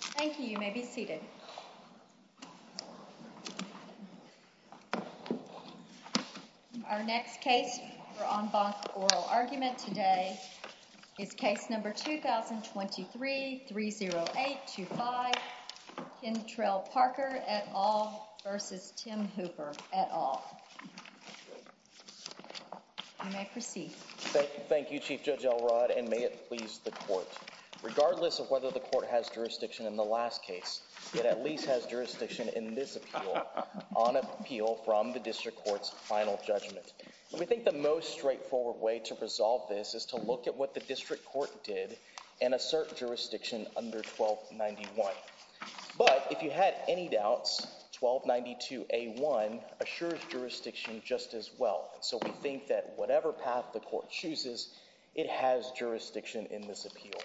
Thank you. You may be seated. Our next case for on bonk oral argument today is case number 2023 30825. In trail Parker at all versus Tim Hooper at all. You may proceed. Thank you, Chief Judge Elrod. And may it please the court, regardless of whether the court has jurisdiction in the last case, it at least has jurisdiction in this appeal on appeal from the district courts final judgment. We think the most straightforward way to resolve this is to look at what the district court did and assert jurisdiction under 1291. But if you had any doubts 1292 a one assures jurisdiction, just as well. So we think that whatever path the court chooses it has jurisdiction in this appeal.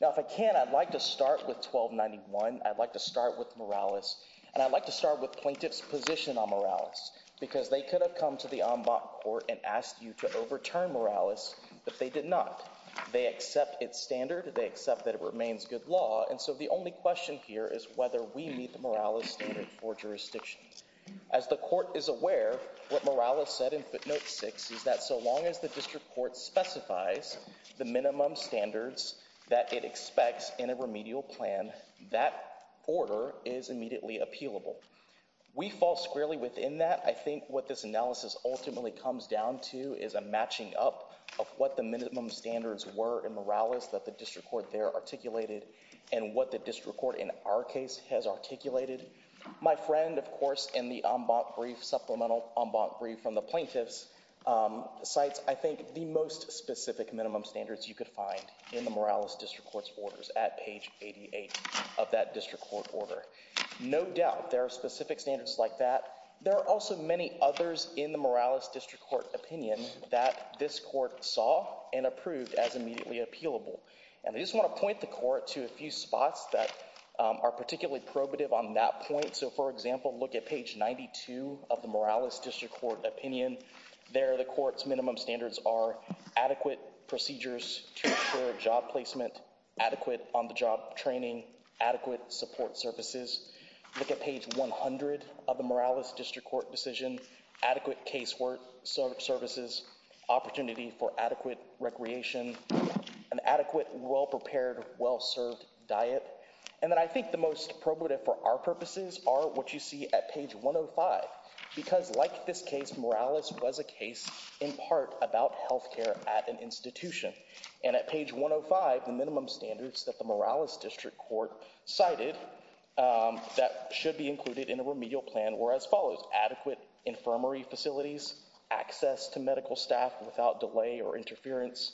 Now, if I can, I'd like to start with 1291. I'd like to start with Morales, and I'd like to start with plaintiff's position on Morales because they could have come to the on bonk or and asked you to overturn Morales, but they did not. They accept its standard. They accept that it remains good law. And so the only question here is whether we need the morale of standard for jurisdictions as the court is aware. What Morales said in footnote six is that so long as the district court specifies the minimum standards that it expects in a remedial plan, that order is immediately appealable. We fall squarely within that. I think what this analysis ultimately comes down to is a matching up of what the minimum standards were in Morales that the district court there articulated and what the district court in our case has articulated. My friend, of course, in the brief supplemental brief from the plaintiff's sites, I think the most specific minimum standards you could find in the Morales district court's orders at page eighty eight of that district court order. No doubt there are specific standards like that. There are also many others in the Morales district court opinion that this court saw and approved as immediately appealable. And I just want to point the court to a few spots that are particularly probative on that point. So, for example, look at page ninety two of the Morales district court opinion there. The court's minimum standards are adequate procedures to ensure job placement, adequate on the job training, adequate support services. Look at page one hundred of the Morales district court decision, adequate casework services, opportunity for adequate recreation, an adequate, well-prepared, well-served diet. And then I think the most probative for our purposes are what you see at page one oh five, because like this case, Morales was a case in part about health care at an institution. And at page one oh five, the minimum standards that the Morales district court cited that should be included in a remedial plan were as follows. Adequate infirmary facilities, access to medical staff without delay or interference,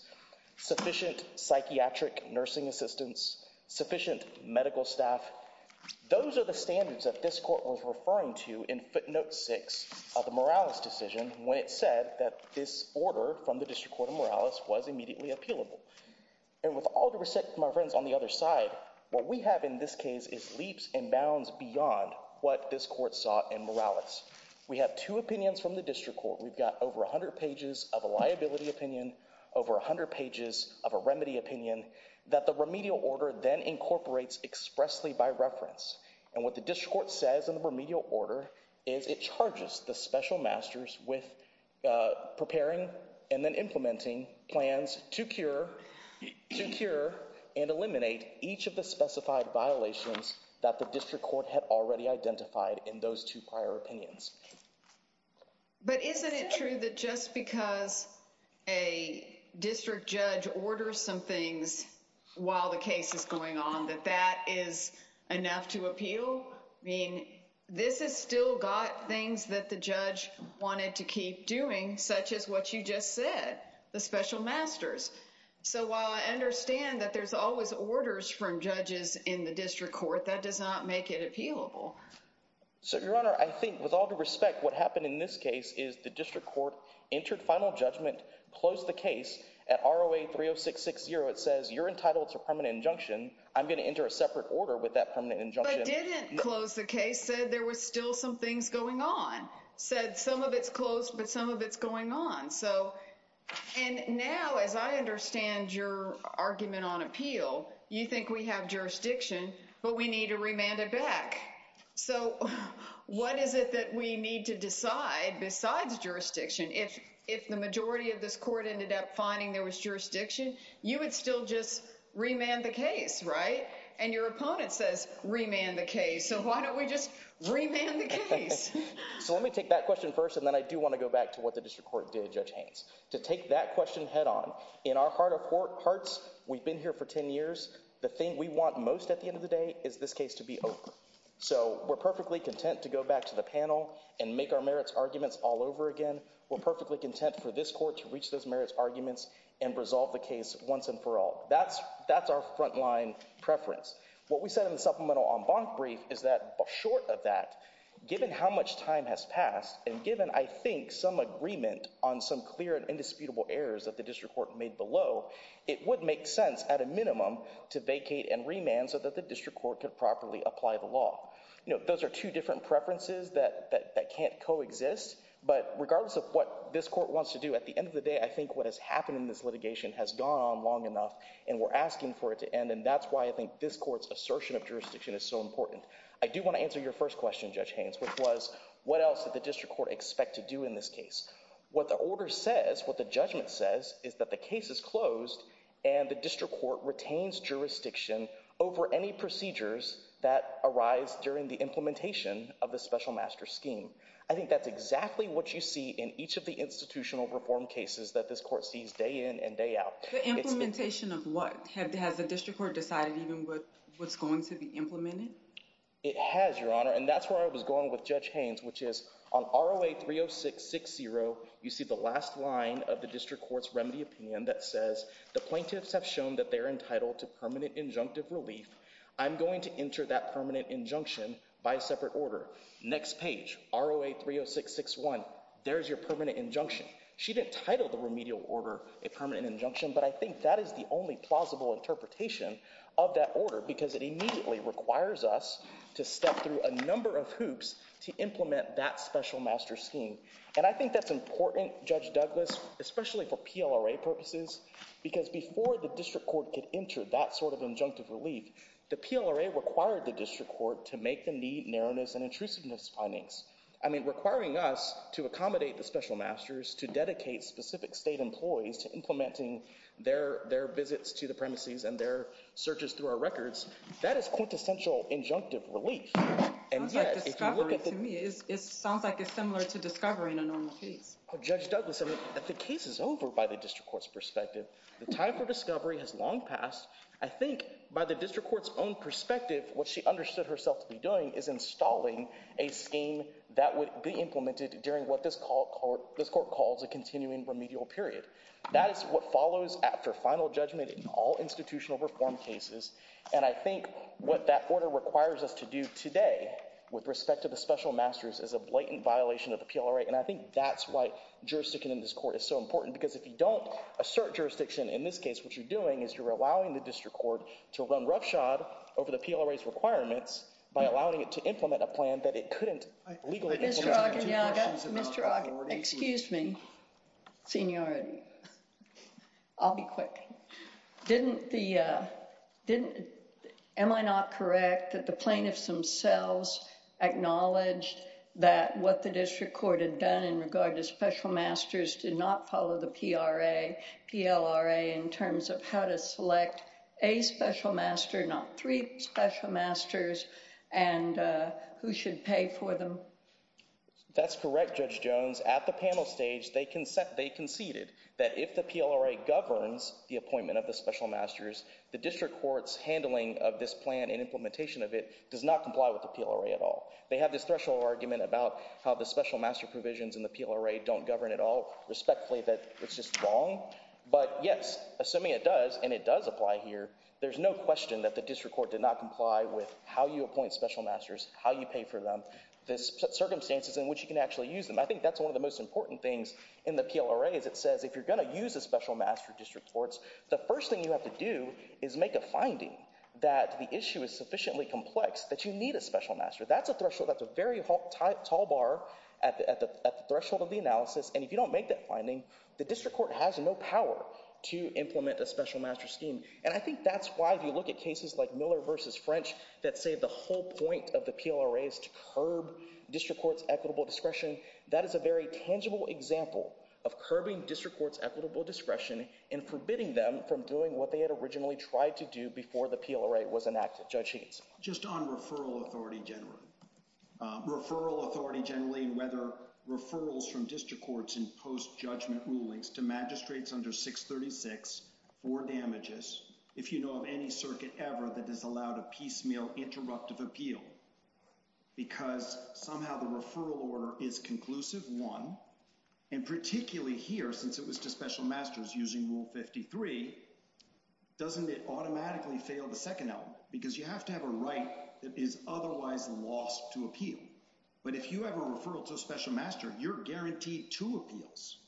sufficient psychiatric nursing assistance, sufficient medical staff. Those are the standards that this court was referring to in footnote six of the Morales decision when it said that this order from the district court in Morales was immediately appealable. And with all the respect, my friends on the other side, what we have in this case is leaps and bounds beyond what this court sought in Morales. We have two opinions from the district court. We've got over 100 pages of a liability opinion, over 100 pages of a remedy opinion that the remedial order then incorporates expressly by reference. And what the district court says in the remedial order is it charges the special masters with preparing and then implementing plans to cure, to cure and eliminate each of the specified violations that the district court had already identified in those two prior opinions. But isn't it true that just because a district judge orders some things while the case is going on, that that is enough to appeal? I mean, this is still got things that the judge wanted to keep doing, such as what you just said, the special masters. So while I understand that there's always orders from judges in the district court, that does not make it appealable. So, Your Honor, I think with all due respect, what happened in this case is the district court entered final judgment, closed the case at ROA 30660. It says you're entitled to a permanent injunction. I'm going to enter a separate order with that permanent injunction. But didn't close the case, said there was still some things going on, said some of it's closed, but some of it's going on. So and now, as I understand your argument on appeal, you think we have jurisdiction, but we need to remand it back. So what is it that we need to decide besides jurisdiction? If if the majority of this court ended up finding there was jurisdiction, you would still just remand the case. Right. And your opponent says remand the case. So why don't we just remand the case? So let me take that question first, and then I do want to go back to what the district court did, Judge Haynes. To take that question head on. In our heart of hearts, we've been here for ten years. The thing we want most at the end of the day is this case to be over. So we're perfectly content to go back to the panel and make our merits arguments all over again. We're perfectly content for this court to reach those merits arguments and resolve the case once and for all. That's our front line preference. What we said in the supplemental en banc brief is that short of that, given how much time has passed, and given, I think, some agreement on some clear and indisputable errors that the district court made below, it would make sense at a minimum to vacate and remand so that the district court could properly apply the law. Those are two different preferences that can't coexist, but regardless of what this court wants to do, at the end of the day, I think what has happened in this litigation has gone on long enough, and we're asking for it to end. And that's why I think this court's assertion of jurisdiction is so important. I do want to answer your first question, Judge Haynes, which was, what else did the district court expect to do in this case? What the order says, what the judgment says, is that the case is closed and the district court retains jurisdiction over any procedures that arise during the implementation of the special master scheme. I think that's exactly what you see in each of the institutional reform cases that this court sees day in and day out. The implementation of what? Has the district court decided even what's going to be implemented? It has, Your Honor, and that's where I was going with Judge Haynes, which is on ROA 30660, you see the last line of the district court's remedy opinion that says, the plaintiffs have shown that they're entitled to permanent injunctive relief. I'm going to enter that permanent injunction by a separate order. Next page, ROA 30661, there's your permanent injunction. She didn't title the remedial order a permanent injunction, but I think that is the only plausible interpretation of that order, because it immediately requires us to step through a number of hoops to implement that special master scheme. And I think that's important, Judge Douglas, especially for PLRA purposes, because before the district court could enter that sort of injunctive relief, the PLRA required the district court to make the need, narrowness, and intrusiveness findings. I mean, requiring us to accommodate the special masters, to dedicate specific state employees to implementing their visits to the premises and their searches through our records, that is quintessential injunctive relief. And yet, if you look at the- Sounds like discovery to me, it sounds like it's similar to discovery in a normal case. Judge Douglas, I mean, the case is over by the district court's perspective. The time for discovery has long passed. I think by the district court's own perspective, what she understood herself to be doing is installing a scheme that would be implemented during what this court calls a continuing remedial period. That is what follows after final judgment in all institutional reform cases. And I think what that order requires us to do today, with respect to the special masters, is a blatant violation of the PLRA. And I think that's why jurisdiction in this court is so important, because if you don't assert jurisdiction in this case, what you're doing is you're allowing the district court to run roughshod over the PLRA's requirements by allowing it to implement a plan that it couldn't legally implement- Mr. Ogden, yeah, I got you. Mr. Ogden, excuse me, seniority. I'll be quick. Didn't the, didn't, am I not correct that the plaintiffs themselves acknowledged that what the district court had done in regard to special masters did not follow the PLRA PLRA in terms of how to select a special master, not three special masters, and who should pay for them? That's correct, Judge Jones. At the panel stage, they conceded that if the PLRA governs the appointment of the special masters, the district court's handling of this plan and implementation of it does not comply with the PLRA at all. They have this threshold argument about how the special master provisions in the PLRA don't govern at all, respectfully, that it's just wrong, but yes, assuming it does and it does apply here, there's no question that the district court did not comply with how you appoint special masters, how you pay for them, the circumstances in which you can actually use them. I think that's one of the most important things in the PLRA is it says if you're going to use a special master district courts, the first thing you have to do is make a finding that the issue is sufficiently complex that you need a special master. That's a threshold, that's a very tall bar at the threshold of the analysis, and if you don't make that finding, the district court has no power to implement a special master scheme. And I think that's why, if you look at cases like Miller v. French, that say the whole point of the PLRA is to curb district courts' equitable discretion, that is a very tangible example of curbing district courts' equitable discretion and forbidding them from doing what they had originally tried to do before the PLRA was enacted. Judge Higginson. Just on referral authority generally, referral authority generally and whether referrals from district courts in post-judgment rulings to magistrates under 636 for damages, if you know of any circuit ever that has allowed a piecemeal interruptive appeal, because somehow the referral order is conclusive, one, and particularly here, since it was to special masters using Rule 53, doesn't it automatically fail the second element? Because you have to have a right that is otherwise lost to appeal. But if you have a referral to a special master, you're guaranteed two appeals,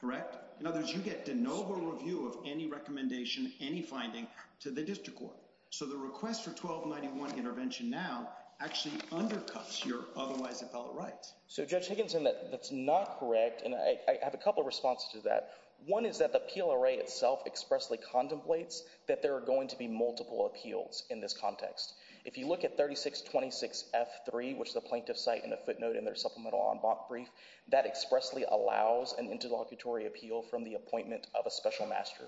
correct? In other words, you get de novo review of any recommendation, any finding to the district court. So the request for 1291 intervention now actually undercuts your otherwise appellate rights. So Judge Higginson, that's not correct, and I have a couple of responses to that. One is that the PLRA itself expressly contemplates that there are going to be multiple appeals in this context. If you look at 3626F3, which the plaintiffs cite in a footnote in their supplemental en banc brief, that expressly allows an interlocutory appeal from the appointment of a special master.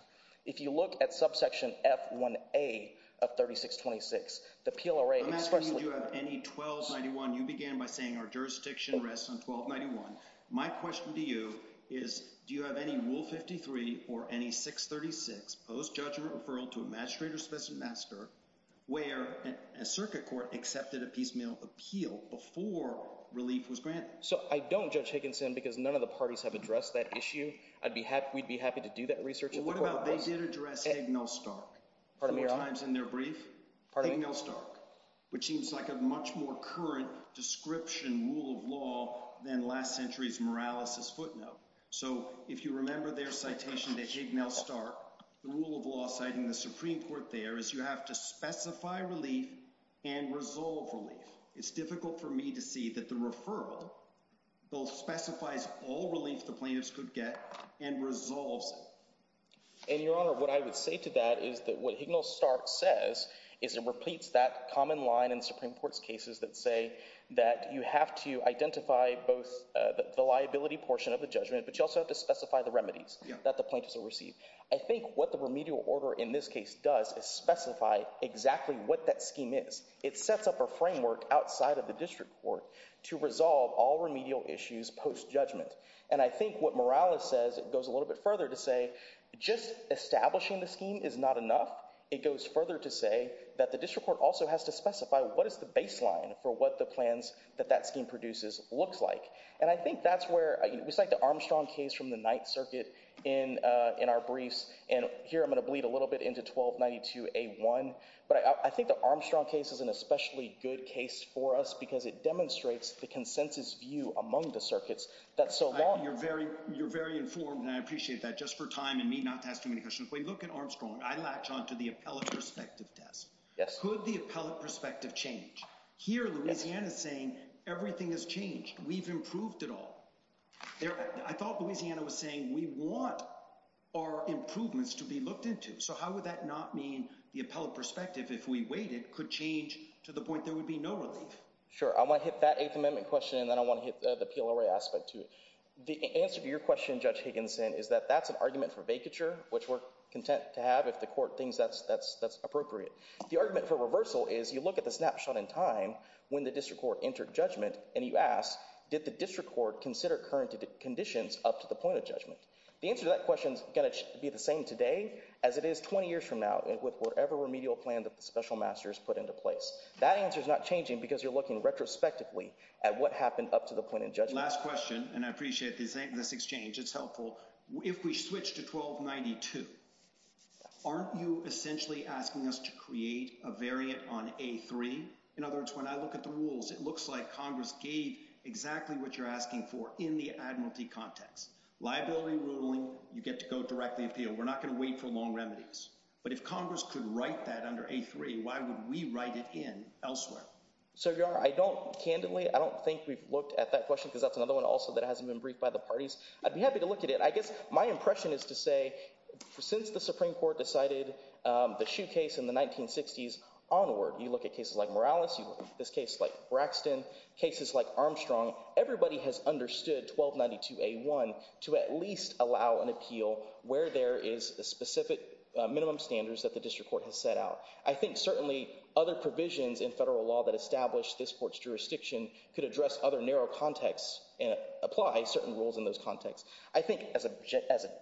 If you look at subsection F1A of 3626, the PLRA expressly— I'm asking you do you have any 1291. You began by saying our jurisdiction rests on 1291. My question to you is do you have any Rule 53 or any 636 post-judgment referral to a magistrate or special master where a circuit court accepted a piecemeal appeal before relief was granted? So I don't, Judge Higginson, because none of the parties have addressed that issue. I'd be happy—we'd be happy to do that research. Well, what about—they did address Higgnall-Stark. Pardon me, Your Honor? Four times in their brief. Pardon me? Higgnall-Stark, which seems like a much more current description rule of law than last century's Morales's footnote. So if you remember their citation to Higgnall-Stark, the rule of law citing the Supreme Court there is you have to specify relief and resolve relief. It's difficult for me to see that the referral both specifies all relief the plaintiffs could get and resolves it. And, Your Honor, what I would say to that is that what Higgnall-Stark says is it repeats that common line in Supreme Court's cases that say that you have to identify both the liability portion of the judgment, but you also have to specify the remedies that the plaintiffs will receive. I think what the remedial order in this case does is specify exactly what that scheme is. It sets up a framework outside of the district court to resolve all remedial issues post-judgment. And I think what Morales says goes a little bit further to say just establishing the scheme is not enough. It goes further to say that the district court also has to specify what is the baseline for what the plans that that scheme produces looks like. And I think that's where we cite the Armstrong case from the Ninth Circuit in our briefs, and here I'm going to bleed a little bit into 1292A1, but I think the Armstrong case is an especially good case for us because it demonstrates the consensus view among the circuits that so long... You're very informed and I appreciate that. Just for time and me not to ask too many questions, when you look at Armstrong, I latch onto the appellate perspective test. Could the appellate perspective change? Here, Louisiana is saying everything has changed. We've improved at all. I thought Louisiana was saying we want our improvements to be looked into. So how would that not mean the appellate perspective, if we waited, could change to the point there would be no relief? Sure. I want to hit that Eighth Amendment question and then I want to hit the PLRA aspect to it. The answer to your question, Judge Higginson, is that that's an argument for vacature, which we're content to have if the court thinks that's appropriate. The argument for reversal is you look at the snapshot in time when the district court entered judgment and you ask, did the district court consider current conditions up to the point of judgment? The answer to that question is going to be the same today as it is 20 years from now with whatever remedial plan that the special masters put into place. That answer is not changing because you're looking retrospectively at what happened up to the point of judgment. Last question, and I appreciate this exchange. It's helpful. If we switch to 1292, aren't you essentially asking us to create a variant on A3? In other words, when I look at the rules, it looks like Congress gave exactly what you're asking for in the admiralty context. Liability ruling, you get to go directly appeal. We're not going to wait for long remedies. But if Congress could write that under A3, why would we write it in elsewhere? So, Your Honor, I don't candidly, I don't think we've looked at that question because that's another one also that hasn't been briefed by the parties. I'd be happy to look at it. My impression is to say, since the Supreme Court decided the shoe case in the 1960s onward, you look at cases like Morales, this case like Braxton, cases like Armstrong, everybody has understood 1292A1 to at least allow an appeal where there is a specific minimum standards that the district court has set out. I think certainly other provisions in federal law that establish this court's jurisdiction could address other narrow contexts and apply certain rules in those contexts. I think as a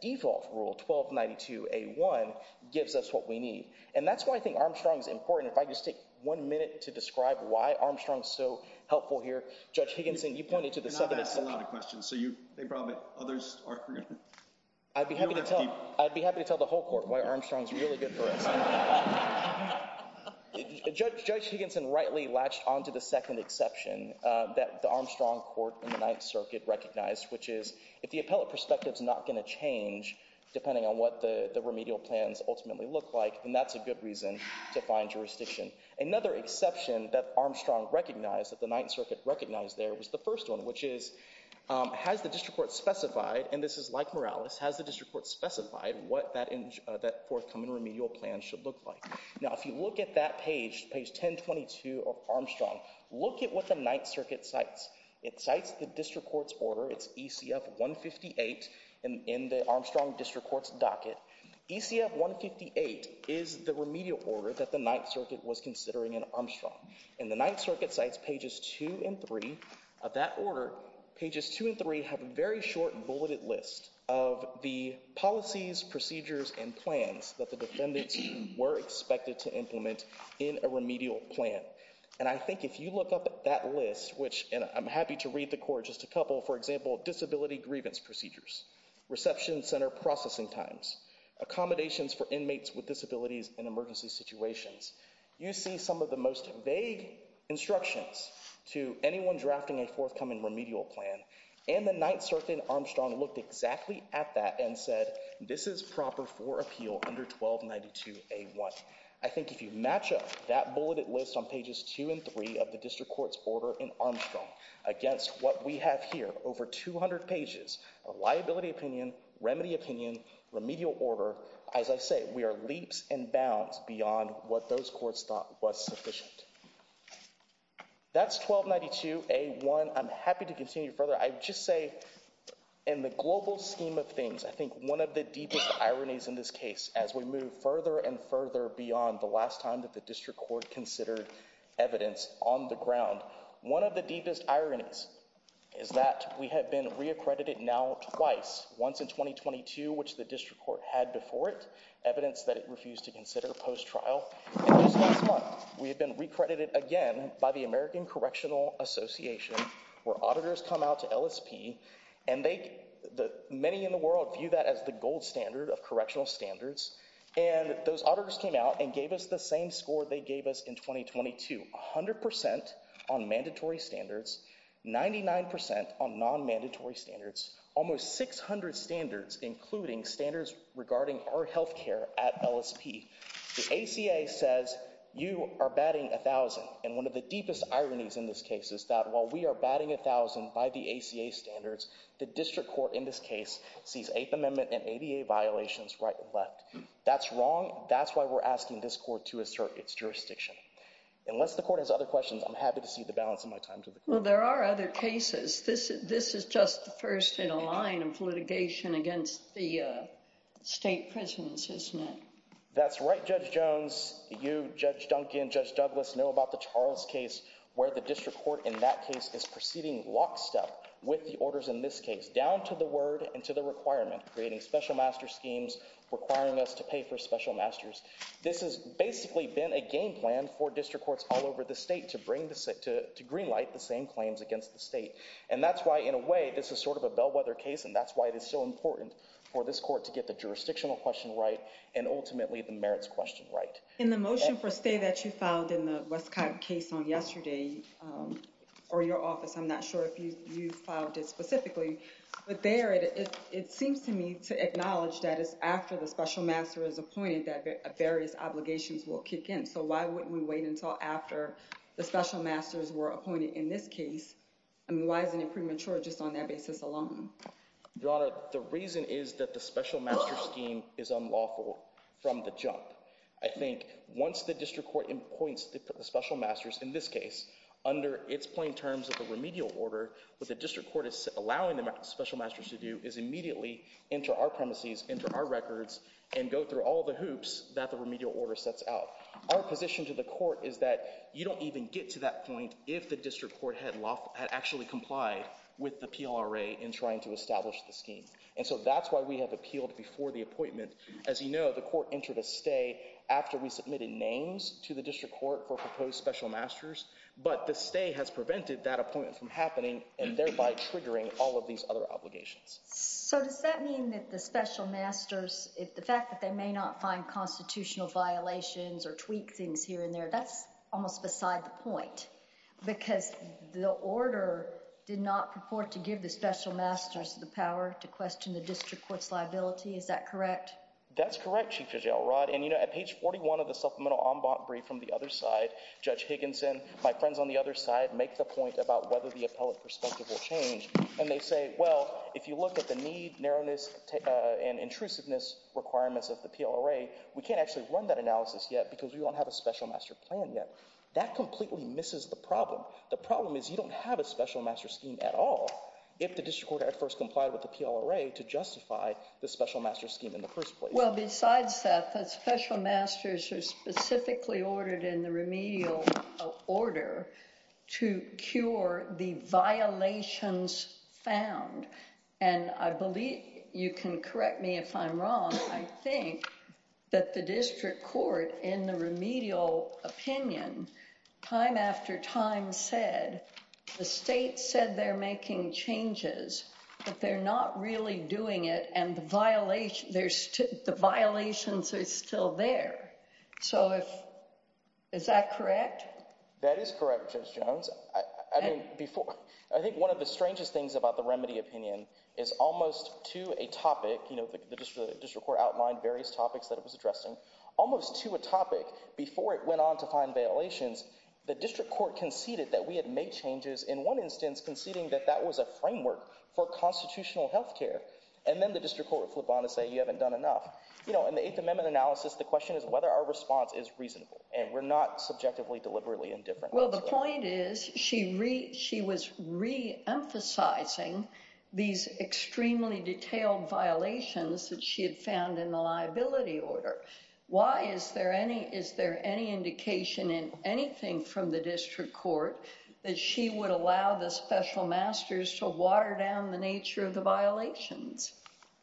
default rule, 1292A1 gives us what we need. And that's why I think Armstrong is important. If I could just take one minute to describe why Armstrong is so helpful here. Judge Higginson, you pointed to the second exception. And I've asked a lot of questions. So you, they probably, others are going to, they don't have to keep. I'd be happy to tell the whole court why Armstrong is really good for us. Judge Higginson rightly latched onto the second exception that the Armstrong Court in the Ninth Circuit recognized, which is if the appellate perspective's not going to change depending on what the remedial plans ultimately look like, then that's a good reason to find jurisdiction. Another exception that Armstrong recognized, that the Ninth Circuit recognized there was the first one, which is has the district court specified, and this is like Morales, has the district court specified what that forthcoming remedial plan should look like? Now, if you look at that page, page 1022 of Armstrong, look at what the Ninth Circuit cites. It cites the district court's order. It's ECF 158 in the Armstrong district court's docket. ECF 158 is the remedial order that the Ninth Circuit was considering in Armstrong. And the Ninth Circuit cites pages two and three of that order. Pages two and three have a very short bulleted list of the policies, procedures, and plans that the defendants were expected to implement in a remedial plan. And I think if you look up at that list, which, and I'm happy to read the court just a couple, for example, disability grievance procedures, reception center processing times, accommodations for inmates with disabilities in emergency situations, you see some of the most vague instructions to anyone drafting a forthcoming remedial plan. And the Ninth Circuit in Armstrong looked exactly at that and said, this is proper for appeal under 1292A1. I think if you match up that bulleted list on pages two and three of the district court's order in Armstrong against what we have here, over 200 pages of liability opinion, remedy opinion, remedial order, as I say, we are leaps and bounds beyond what those courts thought was sufficient. That's 1292A1. I'm happy to continue further. I just say, in the global scheme of things, I think one of the deepest ironies in this case as we move further and further beyond the last time that the district court considered evidence on the ground, one of the deepest ironies is that we have been reaccredited now twice, once in 2022, which the district court had before it, evidence that it refused to consider post-trial. And just last month, we had been recredited again by the American Correctional Association, where auditors come out to LSP, and many in the world view that as the gold standard of correctional standards. And those auditors came out and gave us the same score they gave us in 2022, 100% on mandatory standards, 99% on non-mandatory standards, almost 600 standards, including standards regarding our healthcare at LSP. The ACA says you are batting 1,000. And one of the deepest ironies in this case is that while we are batting 1,000 by the ACA standards, the district court in this case sees Eighth Amendment and ADA violations right and left. That's wrong. That's why we're asking this court to assert its jurisdiction. Unless the court has other questions, I'm happy to cede the balance of my time to the court. Well, there are other cases. This is just the first in a line of litigation against the state prisons, isn't it? That's right, Judge Jones. You, Judge Duncan, Judge Douglas, know about the Charles case, where the district court in that case is proceeding lockstep with the orders in this case, down to the word and to the requirement, creating special master schemes, requiring us to pay for special masters. This has basically been a game plan for district courts all over the state to greenlight the same claims against the state. And that's why, in a way, this is sort of a bellwether case, and that's why it is so important for this court to get the jurisdictional question right and ultimately the merits question right. In the motion for stay that you filed in the Westcott case on yesterday, or your office, I'm not sure if you filed it specifically. But there, it seems to me to acknowledge that it's after the special master is appointed that various obligations will kick in. So why wouldn't we wait until after the special masters were appointed in this case? I mean, why isn't it premature just on that basis alone? Your Honor, the reason is that the special master scheme is unlawful from the jump. I think once the district court appoints the special masters in this case, under its plain terms of the remedial order, what the district court is allowing the special masters to do is immediately enter our premises, enter our records, and go through all the hoops that the remedial order sets out. Our position to the court is that you don't even get to that point if the district court had actually complied with the PLRA in trying to establish the scheme. And so that's why we have appealed before the appointment. As you know, the court entered a stay after we submitted names to the district court for proposed special masters, but the stay has prevented that appointment from happening and thereby triggering all of these other obligations. So does that mean that the special masters, the fact that they may not find constitutional violations or tweak things here and there, that's almost beside the point? Because the order did not purport to give the special masters the power to question the district court's liability. Is that correct? That's correct, Chief Judge Elrod. And you know, at page 41 of the supplemental en banc brief from the other side, Judge Higginson, my friends on the other side make the point about whether the appellate perspective will change. And they say, well, if you look at the need, narrowness and intrusiveness requirements of the PLRA, we can't actually run that analysis yet because we don't have a special master plan yet. That completely misses the problem. The problem is you don't have a special master scheme at all if the district court had first complied with the PLRA to justify the special master scheme in the first place. Well, besides that, the special masters are specifically ordered in the remedial order to cure the violations found. And I believe you can correct me if I'm wrong. I think that the district court in the remedial opinion, time after time said the state said they're making changes, but they're not really doing it. And the violations are still there. So is that correct? That is correct, Judge Jones. I think one of the strangest things about the remedy opinion is almost to a topic, the district court outlined various topics that it was addressing, almost to a topic before it went on to find violations, the district court conceded that we had made changes in one instance conceding that that was a framework for constitutional health care. And then the district court would flip on and say you haven't done enough. In the Eighth Amendment analysis, the question is whether our response is reasonable and we're not subjectively deliberately indifferent. Well, the point is she was reemphasizing these extremely detailed violations that she had found in the liability order. Why is there any indication in anything from the district court that she would allow the special masters to water down the nature of the violations?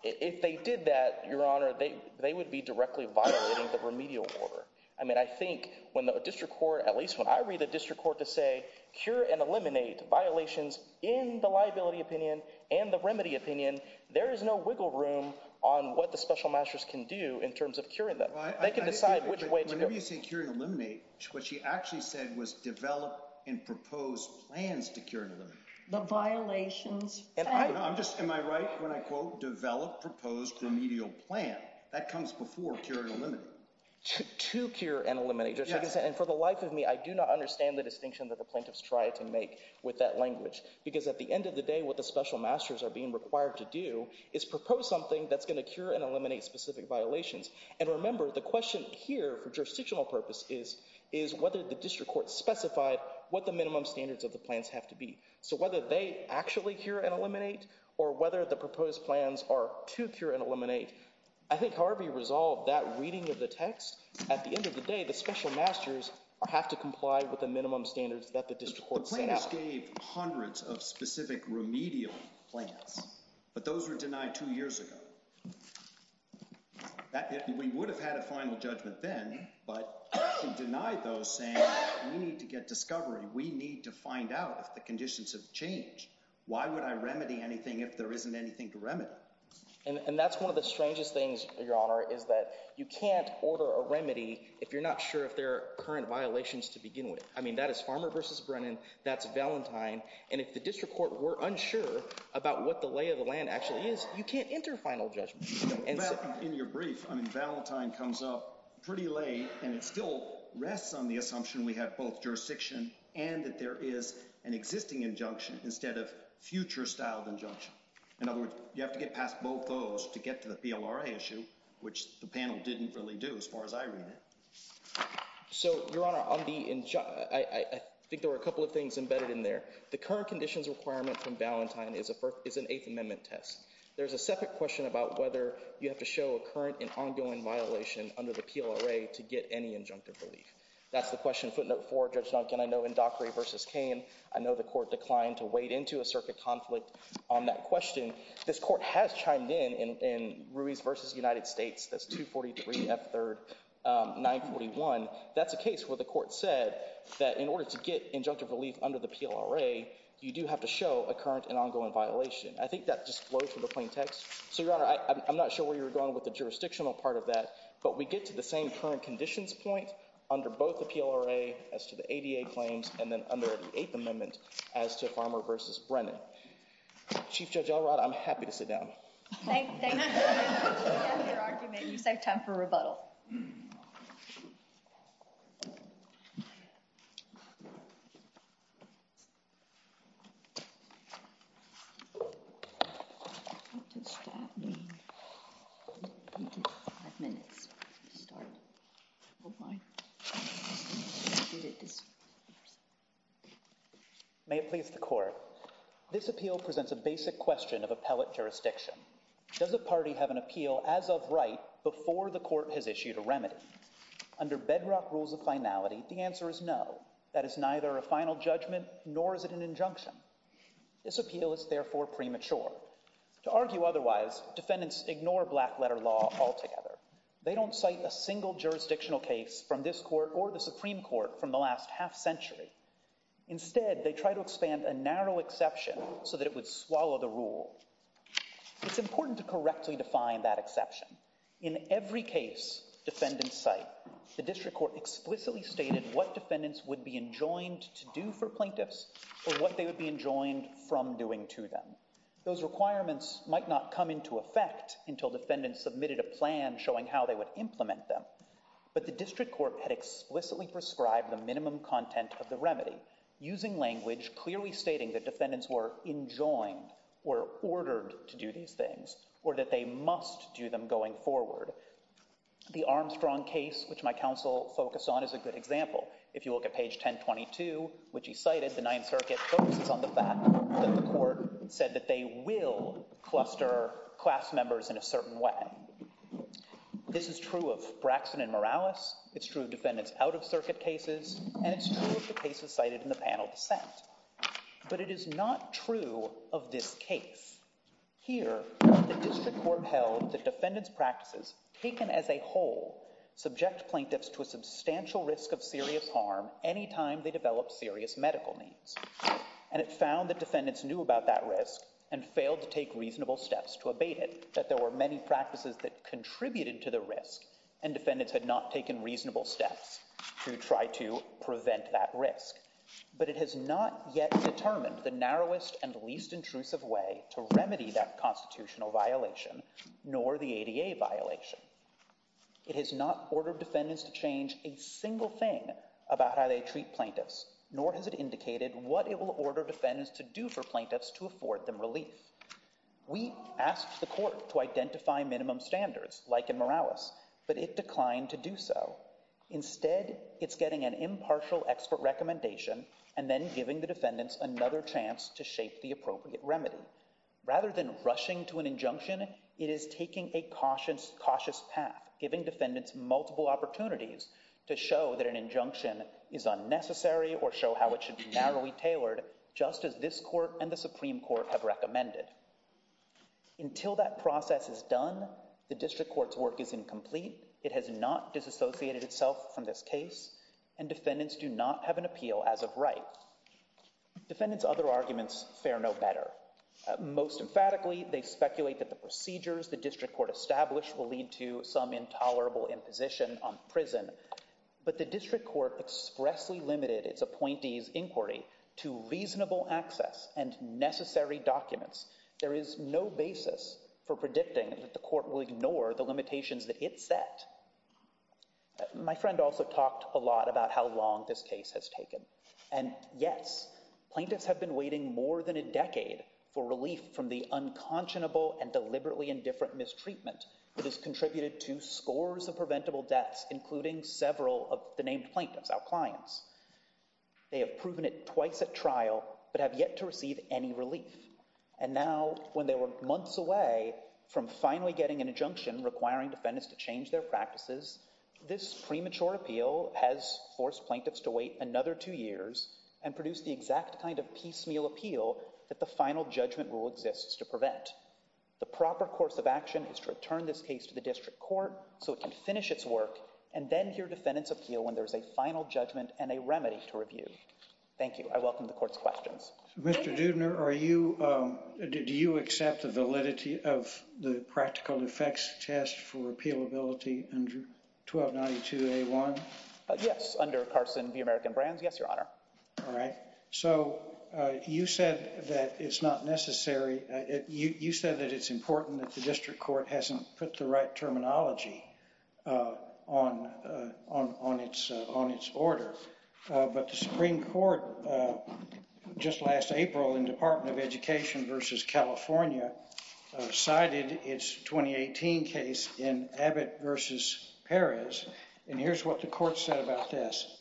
If they did that, Your Honor, they would be directly violating the remedial order. I mean, I think when the district court, at least when I read the district court to say, cure and eliminate violations in the liability opinion and the remedy opinion, there is no wiggle room on what the special masters can do in terms of curing them. They can decide which way to go. Whenever you say cure and eliminate, what she actually said was develop and propose plans to cure and eliminate. The violations failed. I'm just, am I right when I quote, develop, propose remedial plan? That comes before cure and eliminate. To cure and eliminate. And for the life of me, I do not understand the distinction that the plaintiffs try to make with that language. Because at the end of the day, what the special masters are being required to do is propose something that's going to cure and eliminate specific violations. And remember the question here for jurisdictional purpose is whether the district court specified what the minimum standards of the plans have to be. So whether they actually cure and eliminate or whether the proposed plans are to cure and eliminate, I think Harvey resolved that reading of the text. At the end of the day, the special masters have to comply with the minimum standards that the district court set out. The plaintiffs gave hundreds of specific remedial plans, but those were denied two years ago. We would have had a final judgment then, but we denied those saying, we need to get discovery. We need to find out if the conditions have changed. Why would I remedy anything if there isn't anything to remedy? And that's one of the strangest things, Your Honor, is that you can't order a remedy if you're not sure if there are current violations to begin with. I mean, that is Farmer versus Brennan. That's Valentine. And if the district court were unsure about what the lay of the land actually is, you can't enter final judgment. In your brief, I mean, Valentine comes up pretty late and it still rests on the assumption we have both jurisdiction and that there is an existing injunction instead of future styled injunction. In other words, you have to get past both those to get to the PLRA issue, which the panel didn't really do as far as I read it. So, Your Honor, I think there were a couple of things embedded in there. The current conditions requirement from Valentine is an Eighth Amendment test. There's a separate question about whether you have to show a current and ongoing violation under the PLRA to get any injunctive relief. That's the question footnote four, Judge Duncan. I know in Dockery versus Cain, I know the court declined to wade into a circuit conflict on that question. This court has chimed in in Ruiz versus United States. That's 243 F third 941. That's a case where the court said that in order to get injunctive relief under the PLRA, you do have to show a current and ongoing violation. I think that just flows from the plain text. So, Your Honor, I'm not sure where you're going with the jurisdictional part of that, but we get to the same current conditions point under both the PLRA as to the ADA claims and then under the Eighth Amendment as to Farmer versus Brennan. Chief Judge Elrod, I'm happy to sit down. Thank you for your argument. You save time for rebuttal. May it please the court. This appeal presents a basic question of appellate jurisdiction. Does the party have an appeal as of right before the court has issued a remedy? Under bedrock rules of finality, the answer is no. That is neither a final judgment nor is it an injunction. This appeal is therefore premature. To argue otherwise, defendants ignore black letter law altogether. They don't cite a single jurisdictional case from this court or the Supreme Court from the last half century. Instead, they try to expand a narrow exception so that it would swallow the rule. It's important to correctly define that exception. In every case defendants cite, the district court explicitly stated what defendants would be enjoined to do for plaintiffs or what they would be enjoined from doing to them. Those requirements might not come into effect until defendants submitted a plan showing how they would implement them. But the district court had explicitly prescribed the minimum content of the remedy, using language clearly stating that defendants were enjoined or ordered to do these things or that they must do them going forward. The Armstrong case, which my counsel focused on, is a good example. If you look at page 1022, which he cited, the Ninth Circuit focuses on the fact that the court said that they will cluster class members in a certain way. This is true of Braxton and Morales. It's true of defendants out-of-circuit cases. And it's true of the cases cited in the panel descent. But it is not true of this case. Here, the district court held that defendants' practices, taken as a whole, subject plaintiffs to a substantial risk of serious harm any time they develop serious medical needs. And it found that defendants knew about that risk and failed to take reasonable steps to abate it, that there were many practices that contributed to the risk and defendants had not taken reasonable steps to try to prevent that risk. But it has not yet determined the narrowest and least intrusive way to remedy that constitutional violation, nor the ADA violation. It has not ordered defendants to change a single thing about how they treat plaintiffs, nor has it indicated what it will order defendants to do for plaintiffs to afford them relief. We asked the court to identify minimum standards, like in Morales, but it declined to do so. Instead, it's getting an impartial expert recommendation and then giving the defendants another chance to shape the appropriate remedy. Rather than rushing to an injunction, it is taking a cautious path, giving defendants multiple opportunities to show that an injunction is unnecessary or show how it should be narrowly tailored, just as this court and the Supreme Court have recommended. Until that process is done, the district court's work is incomplete. It has not disassociated itself from this case, and defendants do not have an appeal as of right. Defendants' other arguments fare no better. Most emphatically, they speculate that the procedures the district court established will lead to some intolerable imposition on prison, but the district court expressly limited its appointees' inquiry to reasonable access and necessary documents. There is no basis for predicting that the court will ignore the limitations that it set. My friend also talked a lot about how long this case has taken. And yes, plaintiffs have been waiting more than a decade for relief from the unconscionable and deliberately indifferent mistreatment that has contributed to scores of preventable deaths, including several of the named plaintiffs, our clients. They have proven it twice at trial, but have yet to receive any relief. And now, when they were months away from finally getting an injunction requiring defendants to change their practices, this premature appeal has forced plaintiffs to wait another two years and produce the exact kind of piecemeal appeal that the final judgment rule exists to prevent. The proper course of action is to return this case to the district court so it can finish its work and then hear defendants' appeal when there is a final judgment and a remedy to review. Thank you. I welcome the court's questions. Mr. Doudner, are you, do you accept the validity of the practical effects test for appealability under 1292A1? Yes, under Carson v. American Brands. Yes, Your Honor. All right. So you said that it's not necessary. You said that it's important that the district court hasn't put the right terminology on its order. But the Supreme Court just last April in Department of Education v. California cited its 2018 case in Abbott v. Perez. And here's what the court said about this.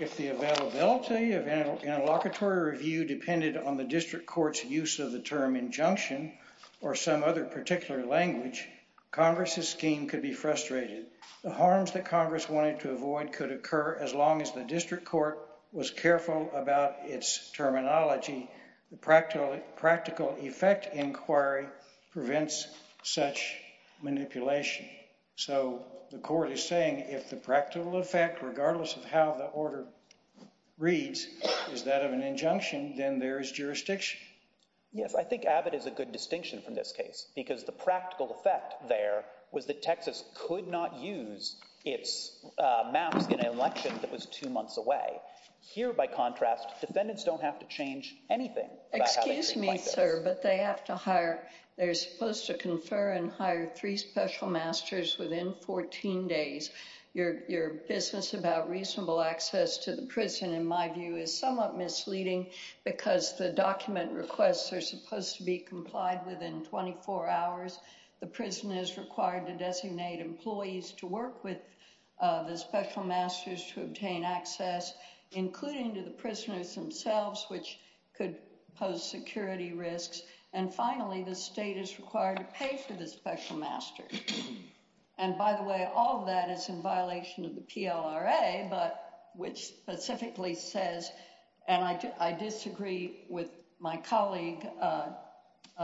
If the availability of an interlocutory review depended on the district court's use of the term injunction or some other particular language, Congress's scheme could be frustrated. The harms that Congress wanted to avoid could occur as long as the district court was careful about its terminology. The practical effect inquiry prevents such manipulation. So the court is saying if the practical effect, regardless of how the order reads, is that of an injunction, then there is jurisdiction. Yes, I think Abbott is a good distinction from this case because the practical effect there was that Texas could not use its maps in an election that was two months away. Here, by contrast, defendants don't have to change anything. Excuse me, sir, but they have to hire, they're supposed to confer and hire three special masters within 14 days. Your business about reasonable access to the prison, in my view, is somewhat misleading because the document requests are supposed to be complied within 24 hours. The prison is required to designate employees to work with the special masters to obtain access, including to the prisoners themselves, which could pose security risks. And finally, the state is required to pay for the special masters. And by the way, all of that is in violation of the PLRA, but which specifically says, and I disagree with my colleague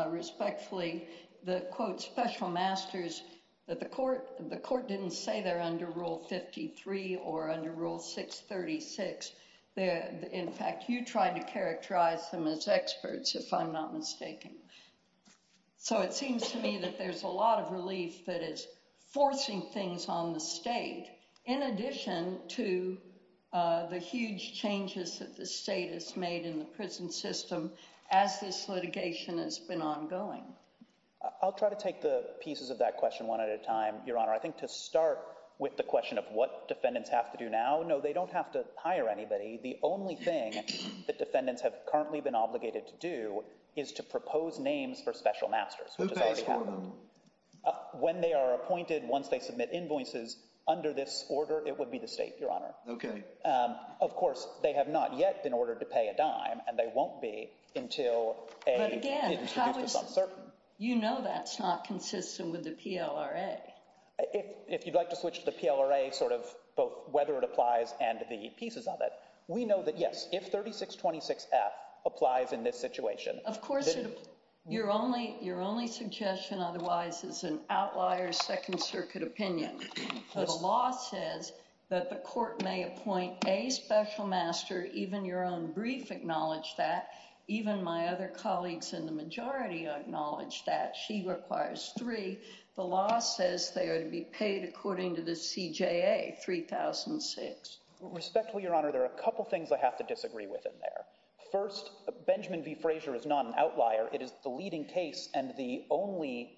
respectfully, the, quote, special masters that the court, the court didn't say they're under Rule 53 or under Rule 636. In fact, you tried to characterize them as experts, if I'm not mistaken. So it seems to me that there's a lot of relief that is forcing things on the state, in addition to the huge changes that the state has made in the prison system as this litigation has been ongoing. I'll try to take the pieces of that question one at a time, Your Honor. I think to start with the question of what defendants have to do now, no, they don't have to hire anybody. The only thing that defendants have currently been obligated to do is to propose names for special masters. Who pays for them? When they are appointed, once they submit invoices under this order, it would be the state, Your Honor. Okay. Of course, they have not yet been ordered to pay a dime and they won't be until a- You know that's not consistent with the PLRA. If you'd like to switch to the PLRA, sort of both whether it applies and the pieces of it, we know that, yes, if 3626F applies in this situation- Of course, your only suggestion otherwise is an outlier second circuit opinion. The law says that the court may appoint a special master, even your own brief acknowledged that, even my other colleagues in the majority acknowledge that she requires three. The law says they are to be paid according to the CJA, 3006. Respectfully, Your Honor, there are a couple things I have to disagree with in there. First, Benjamin v. Frazier is not an outlier. It is the leading case and the only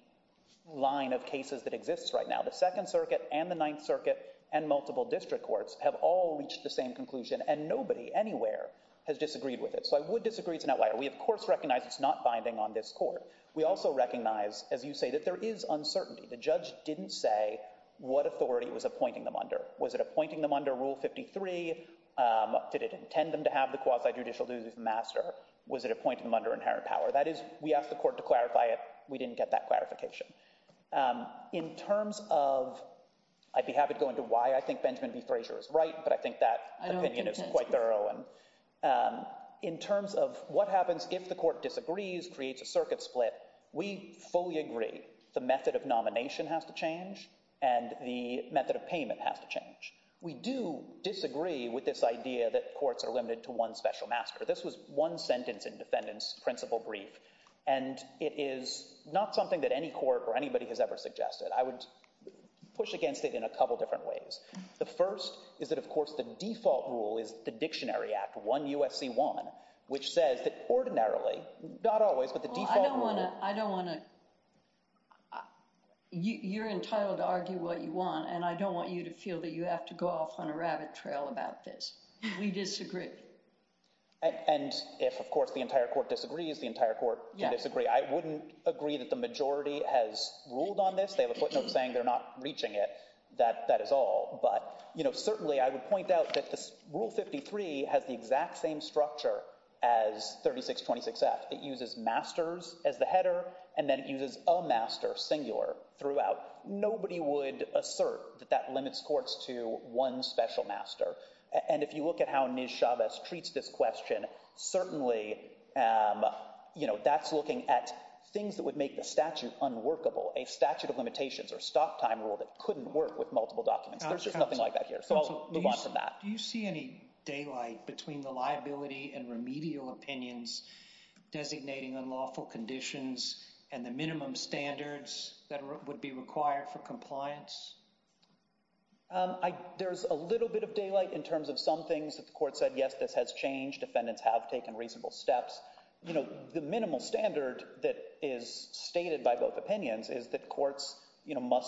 line of cases that exists right now. The second circuit and the ninth circuit and multiple district courts have all reached the same conclusion and nobody anywhere has disagreed with it. I would disagree it's an outlier. We, of course, recognize it's not binding on this court. We also recognize, as you say, that there is uncertainty. The judge didn't say what authority it was appointing them under. Was it appointing them under Rule 53? Did it intend them to have the quasi-judicial duties of master? Was it appointing them under inherent power? That is, we asked the court to clarify it. We didn't get that clarification. In terms of, I'd be happy to go into why I think Benjamin v. Frazier is right, but I think that opinion is quite thorough. In terms of what happens if the court disagrees, creates a circuit split, we fully agree the method of nomination has to change and the method of payment has to change. We do disagree with this idea that courts are limited to one special master. This was one sentence in defendant's principal brief and it is not something that any court or anybody has ever suggested. I would push against it in a couple different ways. The first is that, of course, the default rule is the Dictionary Act 1 U.S.C. 1, which says that ordinarily, not always, but the default rule- Well, I don't wanna, I don't wanna... You're entitled to argue what you want and I don't want you to feel that you have to go off on a rabbit trail about this. We disagree. And if, of course, the entire court disagrees, the entire court can disagree. I wouldn't agree that the majority has ruled on this. They have a footnote saying they're not reaching it. That is all. But certainly I would point out that this Rule 53 has the exact same structure as 3626F. It uses masters as the header and then it uses a master singular throughout. Nobody would assert that that limits courts to one special master. And if you look at how Niz Chavez treats this question, certainly that's looking at things that would make the statute unworkable, a statute of limitations or stop time rule that couldn't work with multiple documents. There's just nothing like that here. So I'll move on from that. Do you see any daylight between the liability and remedial opinions designating unlawful conditions and the minimum standards that would be required for compliance? There's a little bit of daylight in terms of some things that the court said, yes, this has changed. Defendants have taken reasonable steps. You know, the minimal standard that is stated by both opinions is that courts, you know,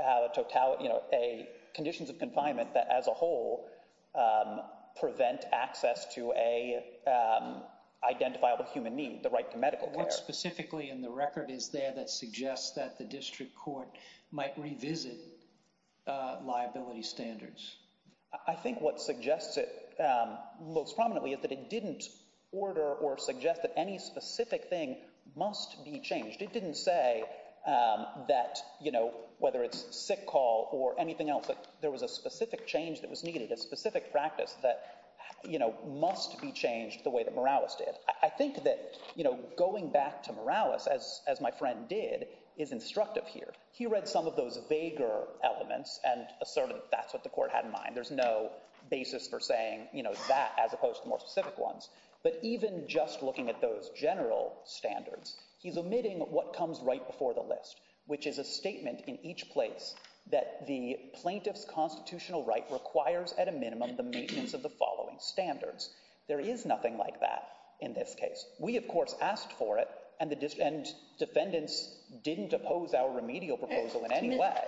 have conditions of confinement that as a whole prevent access to a identifiable human need, the right to medical care. What specifically in the record is there that suggests that the district court might revisit liability standards? I think what suggests it most prominently is that it didn't order or suggest that any specific thing must be changed. It didn't say that, you know, whether it's sick call or anything else, that there was a specific change that was needed, a specific practice that, you know, must be changed the way that Morales did. I think that, you know, going back to Morales, as my friend did, is instructive here. He read some of those vaguer elements and asserted that's what the court had in mind. There's no basis for saying, you know, that as opposed to more specific ones. But even just looking at those general standards, he's omitting what comes right before the list, which is a statement in each place that the plaintiff's constitutional right requires at a minimum the maintenance of the following standards. There is nothing like that in this case. We, of course, asked for it and defendants didn't oppose our remedial proposal in any way.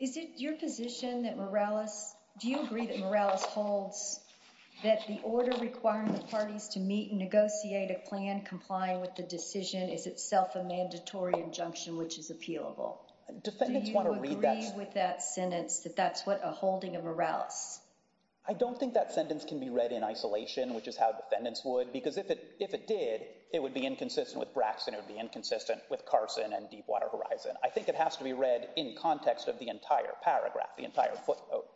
Is it your position that Morales, do you agree that Morales holds that the order requiring the parties to meet and negotiate a plan complying with the decision is itself a mandatory injunction, which is appealable? Do you agree with that sentence that that's what a holding of Morales? I don't think that sentence can be read in isolation, which is how defendants would, because if it did, it would be inconsistent with Braxton. It would be inconsistent with Carson and Deepwater Horizon. I think it has to be read in context of the entire paragraph, the entire footnote.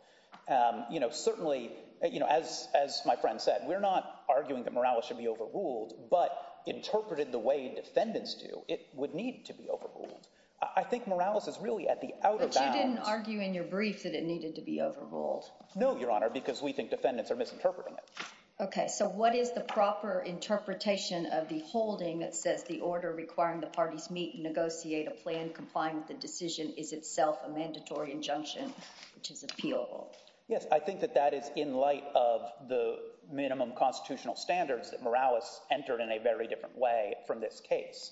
You know, certainly, you know, as my friend said, we're not arguing that Morales should be overruled, but interpreted the way defendants do. It would need to be overruled. I think Morales is really at the outer bounds. But you didn't argue in your brief that it needed to be overruled. No, Your Honor, because we think defendants are misinterpreting it. OK, so what is the proper interpretation of the holding that says the order requiring the parties meet and negotiate a plan complying with the decision is itself a mandatory injunction, which is appealable? Yes, I think that that is in light of the minimum constitutional standards that Morales entered in a very different way from this case.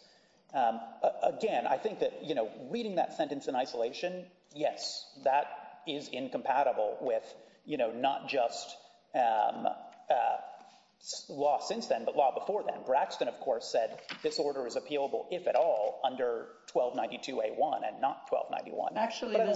Again, I think that, you know, reading that sentence in isolation. Yes, that is incompatible with, you know, not just law since then, but law before then. Braxton, of course, said this order is appealable, if at all, under 1292A1 and not 1291. Actually, the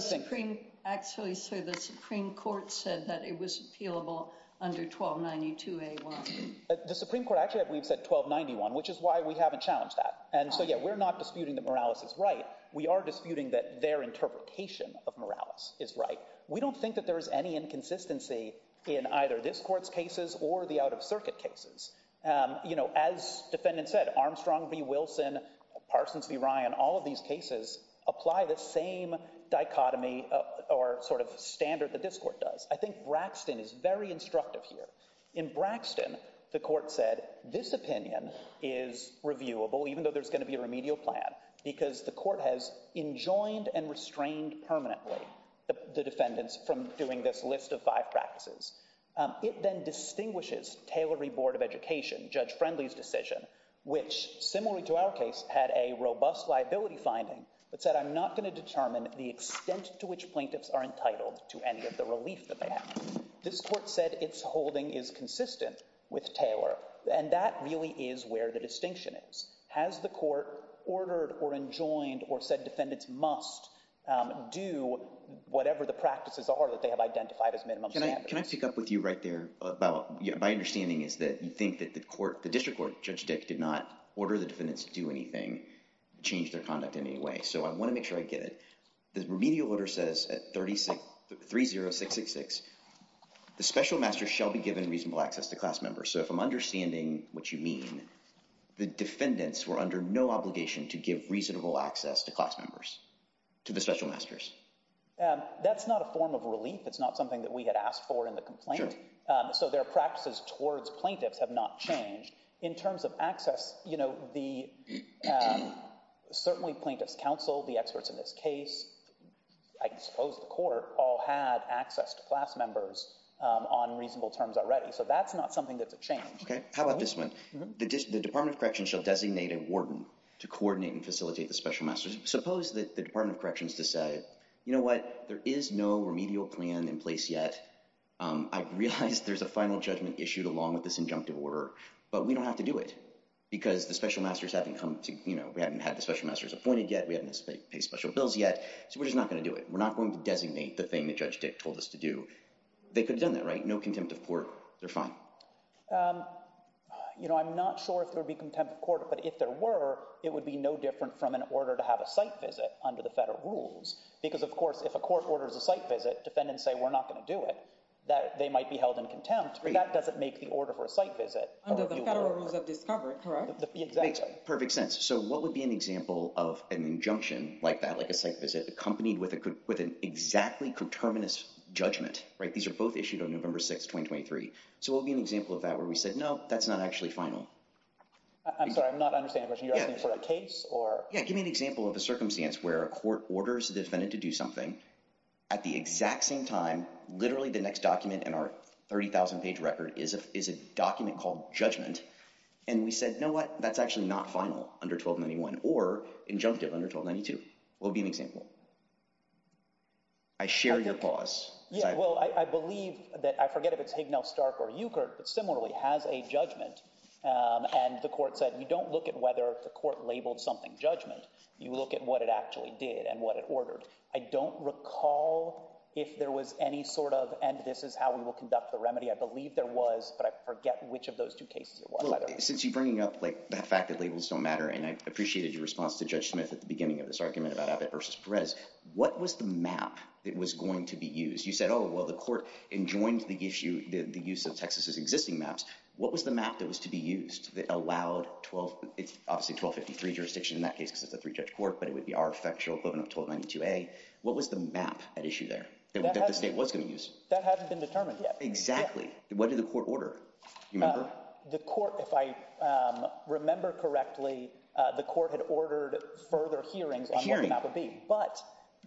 Supreme Court said that it was appealable under 1292A1. The Supreme Court actually said 1291, which is why we haven't challenged that. And so, yeah, we're not disputing that Morales is right. We are disputing that their interpretation of Morales is right. We don't think that there is any inconsistency in either this court's cases or the out-of-circuit cases. You know, as defendants said, Armstrong v. Wilson, Parsons v. Ryan, all of these cases apply the same dichotomy or sort of standard that this court does. I think Braxton is very instructive here. In Braxton, the court said this opinion is reviewable, even though there's going to be a remedial plan, because the court has enjoined and restrained permanently the defendants from doing this list of five practices. It then distinguishes Taylor v. Board of Education, Judge Friendly's decision, which, similarly to our case, had a robust liability finding, but said, I'm not going to determine the extent to which plaintiffs are entitled to any of the relief that they have. This court said its holding is consistent with Taylor, and that really is where the distinction is. Has the court ordered or enjoined or said defendants must do whatever the practices are that they have identified as minimum standards? Can I pick up with you right there about my understanding is that you think that the court, the district court, Judge Dick, did not order the defendants to do anything, change their conduct in any way. So I want to make sure I get it. The remedial order says at 30666, the special masters shall be given reasonable access to class members. So if I'm understanding what you mean, the defendants were under no obligation to give reasonable access to class members, to the special masters. That's not a form of relief. It's not something that we had asked for in the complaint. So their practices towards plaintiffs have not changed. In terms of access, certainly plaintiffs counsel, the experts in this case, I suppose the court, all had access to class members on reasonable terms already. So that's not something that's a change. OK, how about this one? The Department of Corrections shall designate a warden to coordinate and facilitate the special masters. Suppose that the Department of Corrections decide, you know what, there is no remedial plan in place yet. I realize there's a final judgment issued along with this injunctive order, but we don't have to do it because the special masters haven't come to, you know, we haven't had the special masters appointed yet. We haven't paid special bills yet. So we're just not going to do it. We're not going to designate the thing that Judge Dick told us to do. They could have done that, right? No contempt of court. They're fine. You know, I'm not sure if there would be contempt of court, but if there were, it would be no different from an order to have a site visit under the federal rules. Because of course, if a court orders a site visit, defendants say, we're not going to do it, that they might be held in contempt. That doesn't make the order for a site visit. Under the federal rules of discovery, correct? Exactly. Perfect sense. So what would be an example of an injunction like that, accompanied with an exactly conterminous judgment, right? These are both issued on November 6th, 2023. So what would be an example of that where we said, no, that's not actually final? I'm sorry, I'm not understanding. Are you asking for a case or? Yeah, give me an example of a circumstance where a court orders a defendant to do something at the exact same time, literally the next document in our 30,000 page record is a document called judgment. And we said, no, what? That's actually not final under 1291 or injunctive under 1292. What would be an example? I share your pause. Yeah, well, I believe that I forget if it's Hignell, Stark or Euchardt, but similarly has a judgment. And the court said, you don't look at whether the court labeled something judgment. You look at what it actually did and what it ordered. I don't recall if there was any sort of and this is how we will conduct the remedy. I believe there was, but I forget which of those two cases. Since you bringing up like the fact that labels don't matter and I appreciated your response to Judge Smith at the beginning of this argument about Abbott versus Perez. What was the map that was going to be used? You said, oh, well, the court enjoined the issue, the use of Texas's existing maps. What was the map that was to be used that allowed 12? It's obviously 1253 jurisdiction in that case, because it's a three judge court, but it would be our factual equivalent of 1292A. What was the map at issue there that the state was going to use? That hasn't been determined yet. Exactly. What did the court order? The court, if I remember correctly, the court had ordered further hearings on what the map would be. But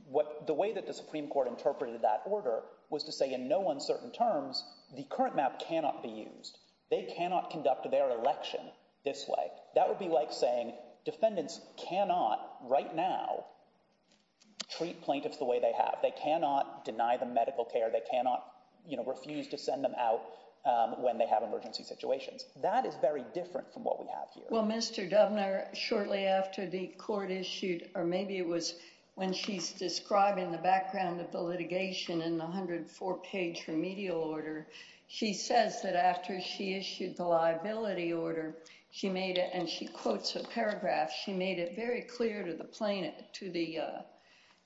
what the way that the Supreme Court interpreted that order was to say in no uncertain terms, the current map cannot be used. They cannot conduct their election this way. That would be like saying defendants cannot right now. Treat plaintiffs the way they have, they cannot deny the medical care, they cannot refuse to send them out when they have emergency situations. That is very different from what we have here. Well, Mr. Dubner, shortly after the court issued, or maybe it was when she's describing the background of the litigation in the 104 page remedial order. She says that after she issued the liability order, she made it and she quotes a paragraph. She made it very clear to the plaintiff, to the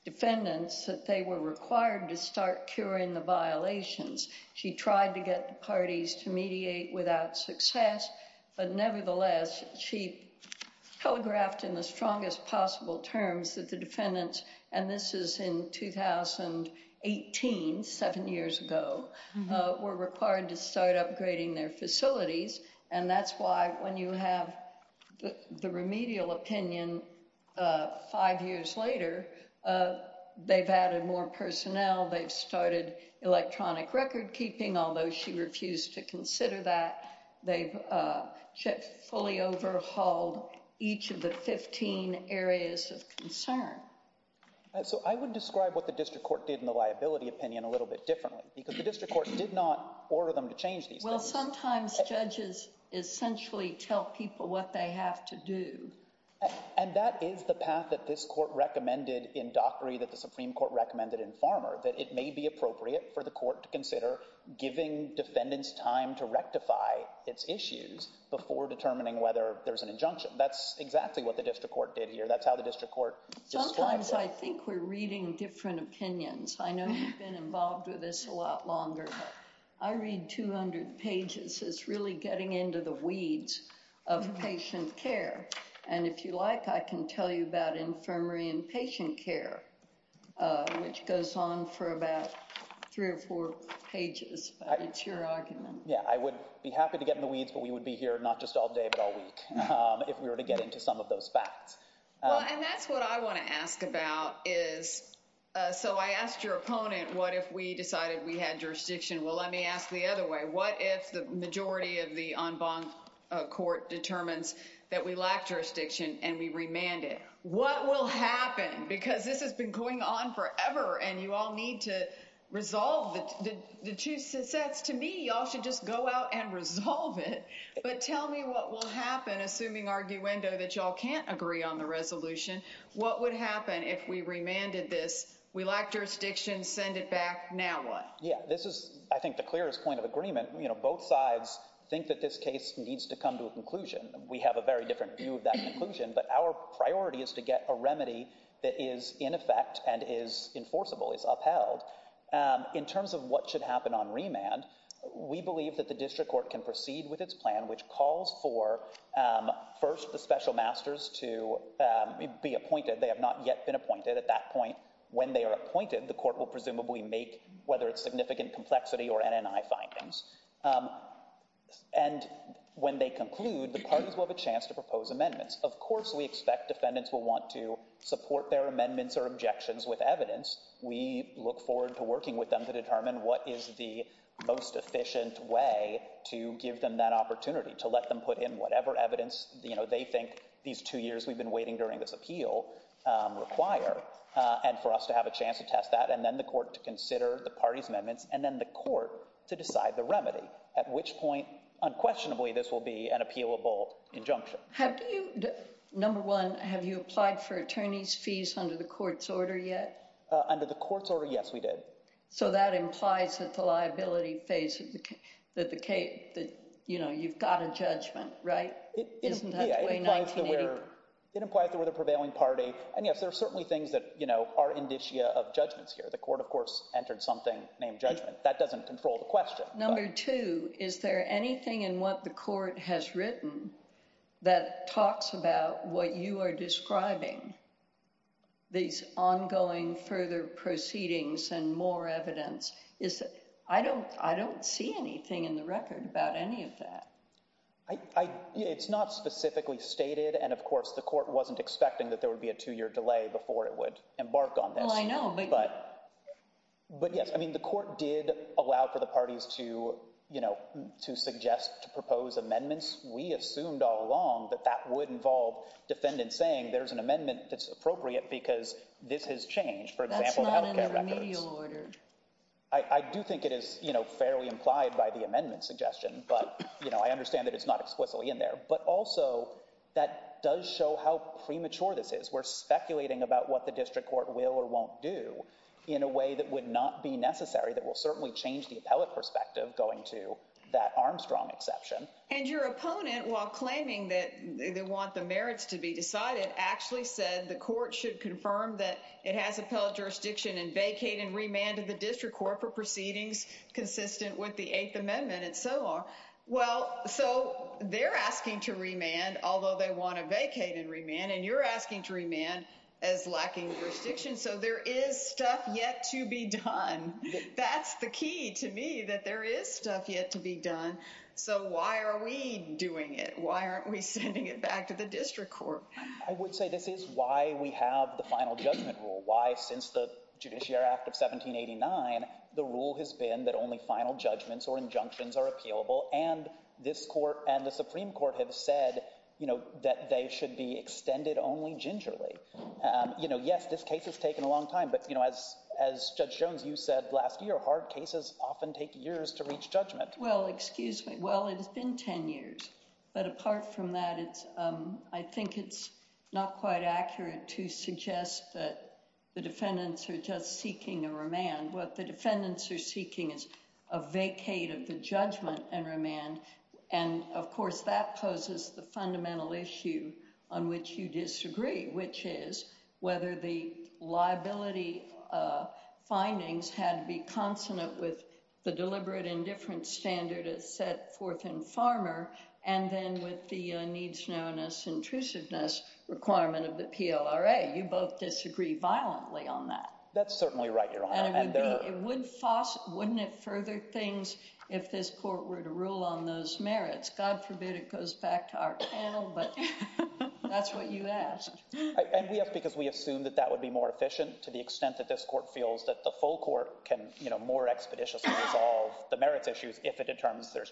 defendants, that they were required to start curing the violations. She tried to get the parties to mediate without success. But nevertheless, she telegraphed in the strongest possible terms that the defendants, and this is in 2018, seven years ago, were required to start upgrading their facilities. And that's why when you have the remedial opinion, five years later, they've added more personnel. They've started electronic record keeping, although she refused to consider that. They've fully overhauled each of the 15 areas of concern. So I would describe what the district court did in the liability opinion a little bit differently, because the district court did not order them to change these. Well, sometimes judges essentially tell people what they have to do. And that is the path that this court recommended in Dockery that the Supreme Court recommended in Farmer, that it may be appropriate for the court to consider giving defendants time to rectify its issues before determining whether there's an injunction. That's exactly what the district court did here. That's how the district court. Sometimes I think we're reading different opinions. I know you've been involved with this a lot longer. I read 200 pages. It's really getting into the weeds of patient care. And if you like, I can tell you about infirmary and patient care, which goes on for about three or four pages. It's your argument. Yeah, I would be happy to get in the weeds, but we would be here not just all day, but all week if we were to get into some of those facts. And that's what I want to ask about is. So I asked your opponent, what if we decided we had jurisdiction? Well, let me ask the other way. What if the majority of the en banc court determines that we lack jurisdiction and we remanded? What will happen? Because this has been going on forever and you all need to resolve the two sets. To me, y'all should just go out and resolve it. But tell me what will happen, assuming arguendo that y'all can't agree on the resolution. What would happen if we remanded this? We lack jurisdiction. Send it back. Now what? Yeah, this is, I think, the clearest point of agreement. You know, both sides think that this case needs to come to a conclusion. We have a very different view of that conclusion, but our priority is to get a remedy that is in effect and is enforceable, is upheld. In terms of what should happen on remand, we believe that the district court can proceed with its plan, which calls for first the special masters to be appointed. They have not yet been appointed. At that point, when they are appointed, the court will presumably make, whether it's significant complexity or NNI findings. And when they conclude, the parties will have a chance to propose amendments. Of course, we expect defendants will want to support their amendments or objections with evidence. We look forward to working with them to determine what is the most efficient way to give them that opportunity, to let them put in whatever evidence, you know, they think these two years we've been waiting during this appeal require. And for us to have a chance to test that and then the court to consider the party's amendments and then the court to decide the remedy, at which point, unquestionably, this will be an appealable injunction. Number one, have you applied for attorney's fees under the court's order yet? Under the court's order? Yes, we did. So that implies that the liability phase that the case that, you know, you've got a judgment, right? It implies that we're the prevailing party. And yes, there are certainly things that, you know, are indicia of judgments here. The court, of course, entered something named judgment. That doesn't control the question. Number two, is there anything in what the court has written that talks about what you are describing? These ongoing further proceedings and more evidence. I don't see anything in the record about any of that. It's not specifically stated. And of course, the court wasn't expecting that there would be a two year delay before it would embark on this. Well, I know. But yes, I mean, the court did allow for the parties to suggest to propose amendments. We assumed all along that that would involve defendants saying there's an amendment that's appropriate because this has changed, for example, in the remedial order. I do think it is, you know, fairly implied by the amendment suggestion. But, you know, I understand that it's not explicitly in there, but also that does show how premature this is. We're speculating about what the district court will or won't do in a way that would not be necessary that will certainly change the appellate perspective, going to that Armstrong exception. And your opponent, while claiming that they want the merits to be decided, actually said the court should confirm that it has appellate jurisdiction and vacate and remand to the district court for proceedings consistent with the Eighth Amendment and so on. Well, so they're asking to remand, although they want to vacate and remand, and you're asking to remand as lacking jurisdiction. So there is stuff yet to be done. That's the key to me, that there is stuff yet to be done. So why are we doing it? Why aren't we sending it back to the district court? I would say this is why we have the final judgment rule. Why? Since the Judiciary Act of 1789, the rule has been that only final judgments or injunctions are appealable. And this court and the Supreme Court have said, you know, that they should be extended only gingerly. You know, yes, this case has taken a long time. But, you know, as Judge Jones, you said last year, hard cases often take years to reach judgment. Well, excuse me. Well, it has been 10 years. But apart from that, I think it's not quite accurate to suggest that the defendants are just seeking a remand. What the defendants are seeking is a vacate of the judgment and remand. And, of course, that poses the fundamental issue on which you disagree, which is whether the liability findings had to be consonant with the deliberate indifference standard set forth in Farmer and then with the needs known as intrusiveness requirement of the PLRA. You both disagree violently on that. That's certainly right, Your Honor. And it would be, it would foster, wouldn't it further things if this court were to rule on those merits? God forbid it goes back to our panel, but that's what you asked. And we asked because we assumed that that would be more efficient to the extent that this court feels that the full court can, you know, more expeditiously resolve the merits issues if it determines there's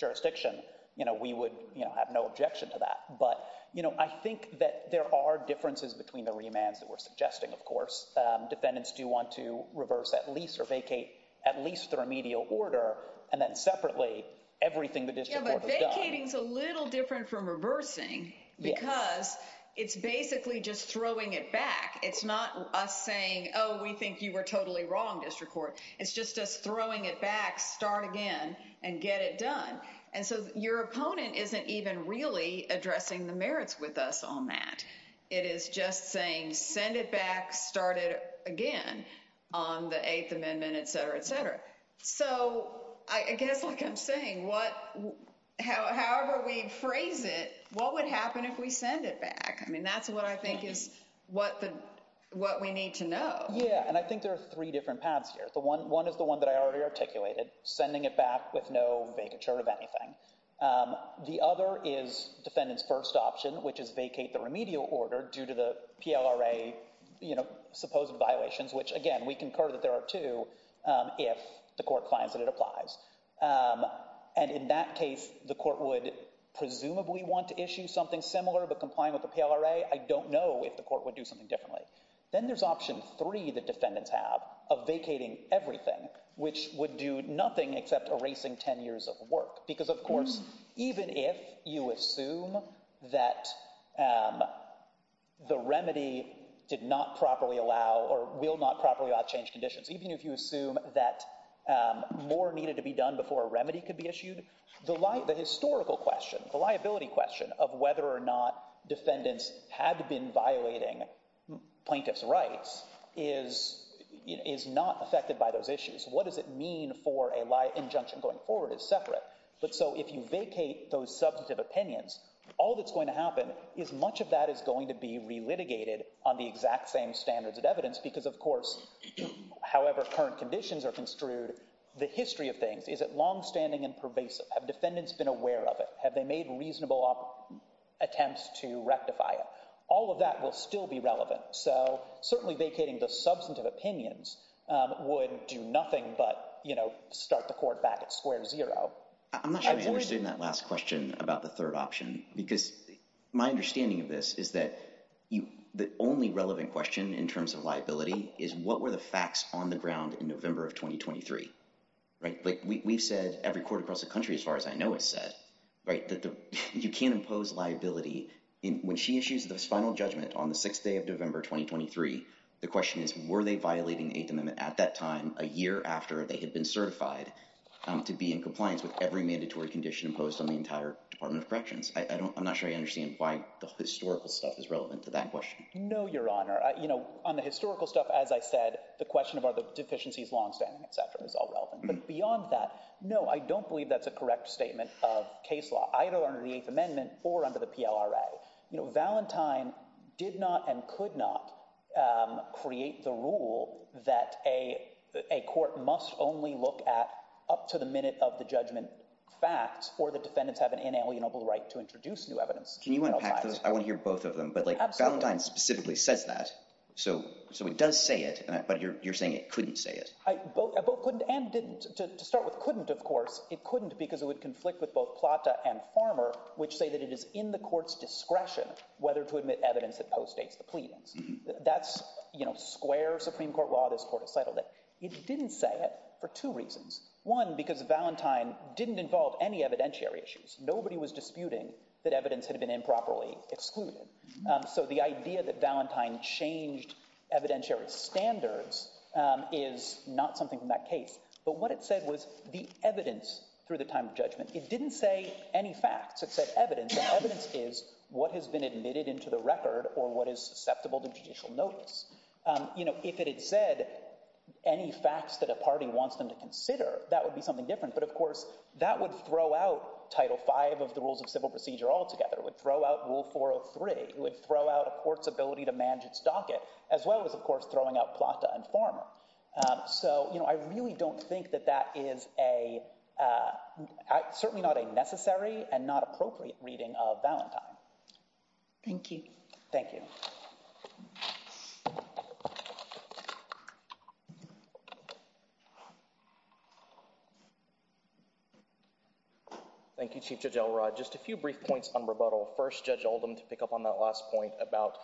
jurisdiction. You know, we would, you know, have no objection to that. But, you know, I think that there are differences between the remands that we're suggesting, of course. Defendants do want to reverse at least or vacate at least the remedial order and then separately everything the district court has done. Yeah, but vacating is a little different from reversing because it's basically just throwing it back. It's not us saying, oh, we think you were totally wrong, district court. It's just us throwing it back, start again and get it done. And so your opponent isn't even really addressing the merits with us on that. It is just saying send it back, start it again on the Eighth Amendment, et cetera, et cetera. So I guess like I'm saying, what, however we phrase it, what would happen if we send it back? I mean, that's what I think is what we need to know. Yeah, and I think there are three different paths here. The one is the one that I already articulated, sending it back with no vacature of anything. The other is defendant's first option, which is vacate the remedial order due to the PLRA supposed violations, which again, we concur that there are two if the court finds that it applies. And in that case, the court would presumably want to issue something similar, but complying with the PLRA, I don't know if the court would do something differently. Then there's option three that defendants have of vacating everything, which would do nothing except erasing 10 years of work. Because, of course, even if you assume that the remedy did not properly allow or will not properly change conditions, even if you assume that more needed to be done before a remedy could be issued, the historical question, the liability question of whether or not defendants had been violating plaintiff's rights is not affected by those issues. What does it mean for an injunction going forward is separate. So if you vacate those substantive opinions, all that's going to happen is much of that is going to be re-litigated on the exact same standards of evidence. Because, of course, however current conditions are construed, the history of things, is it longstanding and pervasive? Have defendants been aware of it? Have they made reasonable attempts to rectify it? All of that will still be relevant. So certainly vacating the substantive opinions would do nothing but start the court back at square zero. I'm not sure I understood in that last question about the third option, because my understanding of this is that the only relevant question in terms of liability is what were the facts on the ground in November of 2023, right? Like we've said every court across the country, as far as I know, has said, right, that you can't impose liability. And when she issues this final judgment on the sixth day of November 2023, the question is, were they violating the Eighth Amendment at that time, a year after they had been certified to be in compliance with every mandatory condition imposed on the entire Department of Corrections? I'm not sure I understand why the historical stuff is relevant to that question. No, Your Honor. You know, on the historical stuff, as I said, the question about the deficiencies, longstanding, et cetera, is all relevant. But beyond that, no, I don't believe that's a correct statement of case law, either under the Eighth Amendment or under the PLRA. You know, Valentine did not and could not create the rule that a court must only look at to the minute of the judgment fact or the defendants have an inalienable right to introduce new evidence. Can you unpack those? I want to hear both of them. But, like, Valentine specifically says that. So it does say it, but you're saying it couldn't say it. I both couldn't and didn't. To start with couldn't, of course, it couldn't because it would conflict with both Plata and Farmer, which say that it is in the court's discretion whether to admit evidence that postdates the pleadings. That's, you know, square Supreme Court law. This court has settled it. It didn't say it for two reasons. One, because Valentine didn't involve any evidentiary issues. Nobody was disputing that evidence had been improperly excluded. So the idea that Valentine changed evidentiary standards is not something from that case. But what it said was the evidence through the time of judgment. It didn't say any facts. It said evidence. And evidence is what has been admitted into the record or what is susceptible to judicial notice. You know, if it had said any facts that a party wants them to consider, that would be something different. But, of course, that would throw out Title V of the rules of civil procedure altogether. It would throw out Rule 403. It would throw out a court's ability to manage its docket, as well as, of course, throwing out Plata and Farmer. So, you know, I really don't think that that is a certainly not a necessary and not appropriate reading of Valentine. Thank you. Thank you. Thank you, Chief Judge Elrod. Just a few brief points on rebuttal. First, Judge Oldham, to pick up on that last point about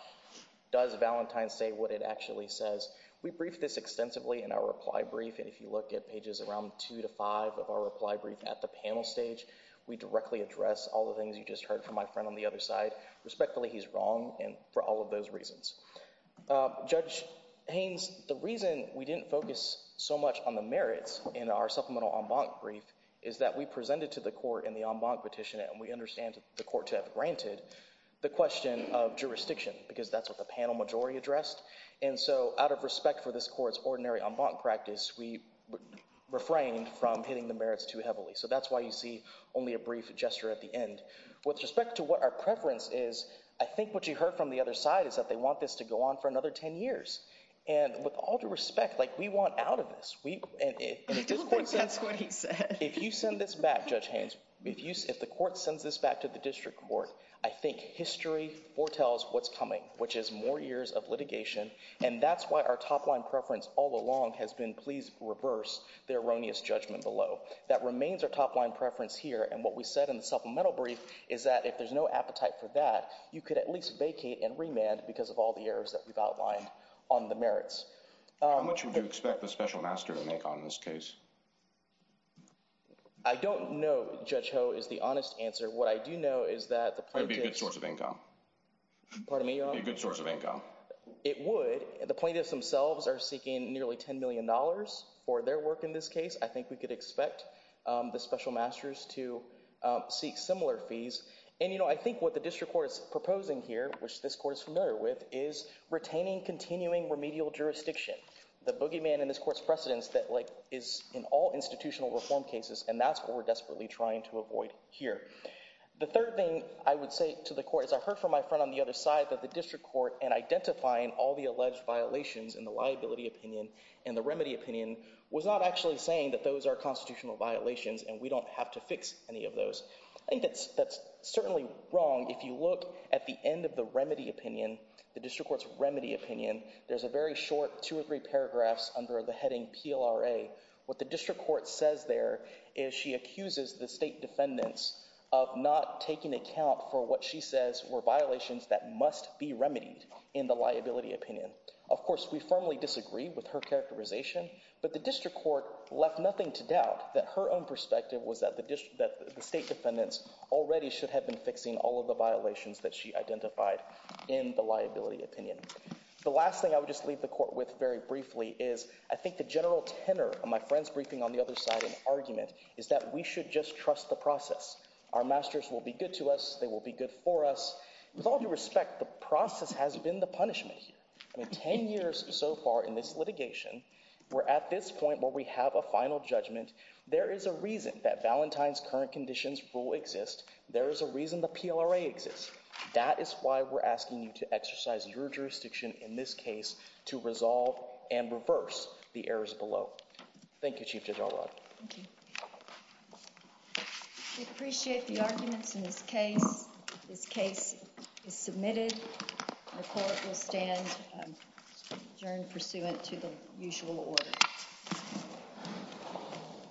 does Valentine say what it actually says. We briefed this extensively in our reply brief. And if you look at pages around two to five of our reply brief at the panel stage, we directly address all the things you just heard from my friend on the other side. Respectfully, he's wrong. And for all of those reasons, Judge Haynes, the reason we didn't focus so much on the merits in our supplemental en banc brief is that we presented to the court in the en banc petition, and we understand the court to have granted the question of jurisdiction because that's what the panel majority addressed. And so out of respect for this court's ordinary en banc practice, we refrained from hitting the merits too heavily. So that's why you see only a brief gesture at the end. With respect to what our preference is, I think what you heard from the other side is that they want this to go on for another 10 years. And with all due respect, like, we want out of this. We, and if this court says, if you send this back, Judge Haynes, if you, if the court sends this back to the district court, I think history foretells what's coming, which is more years of litigation. And that's why our top line preference all along has been, please reverse the erroneous judgment below. That remains our top line preference here. And what we said in the supplemental brief is that if there's no appetite for that, you could at least vacate and remand because of all the errors that we've outlined on the merits. How much would you expect the special master to make on this case? I don't know, Judge Ho, is the honest answer. What I do know is that the plaintiffs... That would be a good source of income. Pardon me, Your Honor? A good source of income. It would. The plaintiffs themselves are seeking nearly $10 million for their work in this case. I think we could expect the special masters to seek similar fees. And, you know, I think what the district court is proposing here, which this court is familiar with, is retaining, continuing remedial jurisdiction. The boogeyman in this court's precedence that is in all institutional reform cases. And that's what we're desperately trying to avoid here. The third thing I would say to the court is I heard from my friend on the other side that the district court and identifying all the alleged violations in the liability opinion and the remedy opinion was not actually saying that those are constitutional violations and we don't have to fix any of those. I think that's certainly wrong if you look at the end of the remedy opinion, the district court's remedy opinion, there's a very short two or three paragraphs under the heading PLRA. What the district court says there is she accuses the state defendants of not taking account for what she says were violations that must be remedied in the liability opinion. Of course, we firmly disagree with her characterization, but the district court left nothing to doubt that her own perspective was that the state defendants already should have been fixing all of the violations that she identified in the liability opinion. The last thing I would just leave the court with very briefly is I think the general tenor of my friend's briefing on the other side and argument is that we should just trust the process. Our masters will be good to us. They will be good for us. With all due respect, the process has been the punishment here. I mean, 10 years so far in this litigation, we're at this point where we have a final judgment there is a reason that Valentine's current conditions rule exist. There is a reason the PLRA exists. That is why we're asking you to exercise your jurisdiction in this case to resolve and reverse the errors below. Thank you, Chief Judge Alrod. We appreciate the arguments in this case. This case is submitted. The court will stand adjourned pursuant to the usual order. Thank you.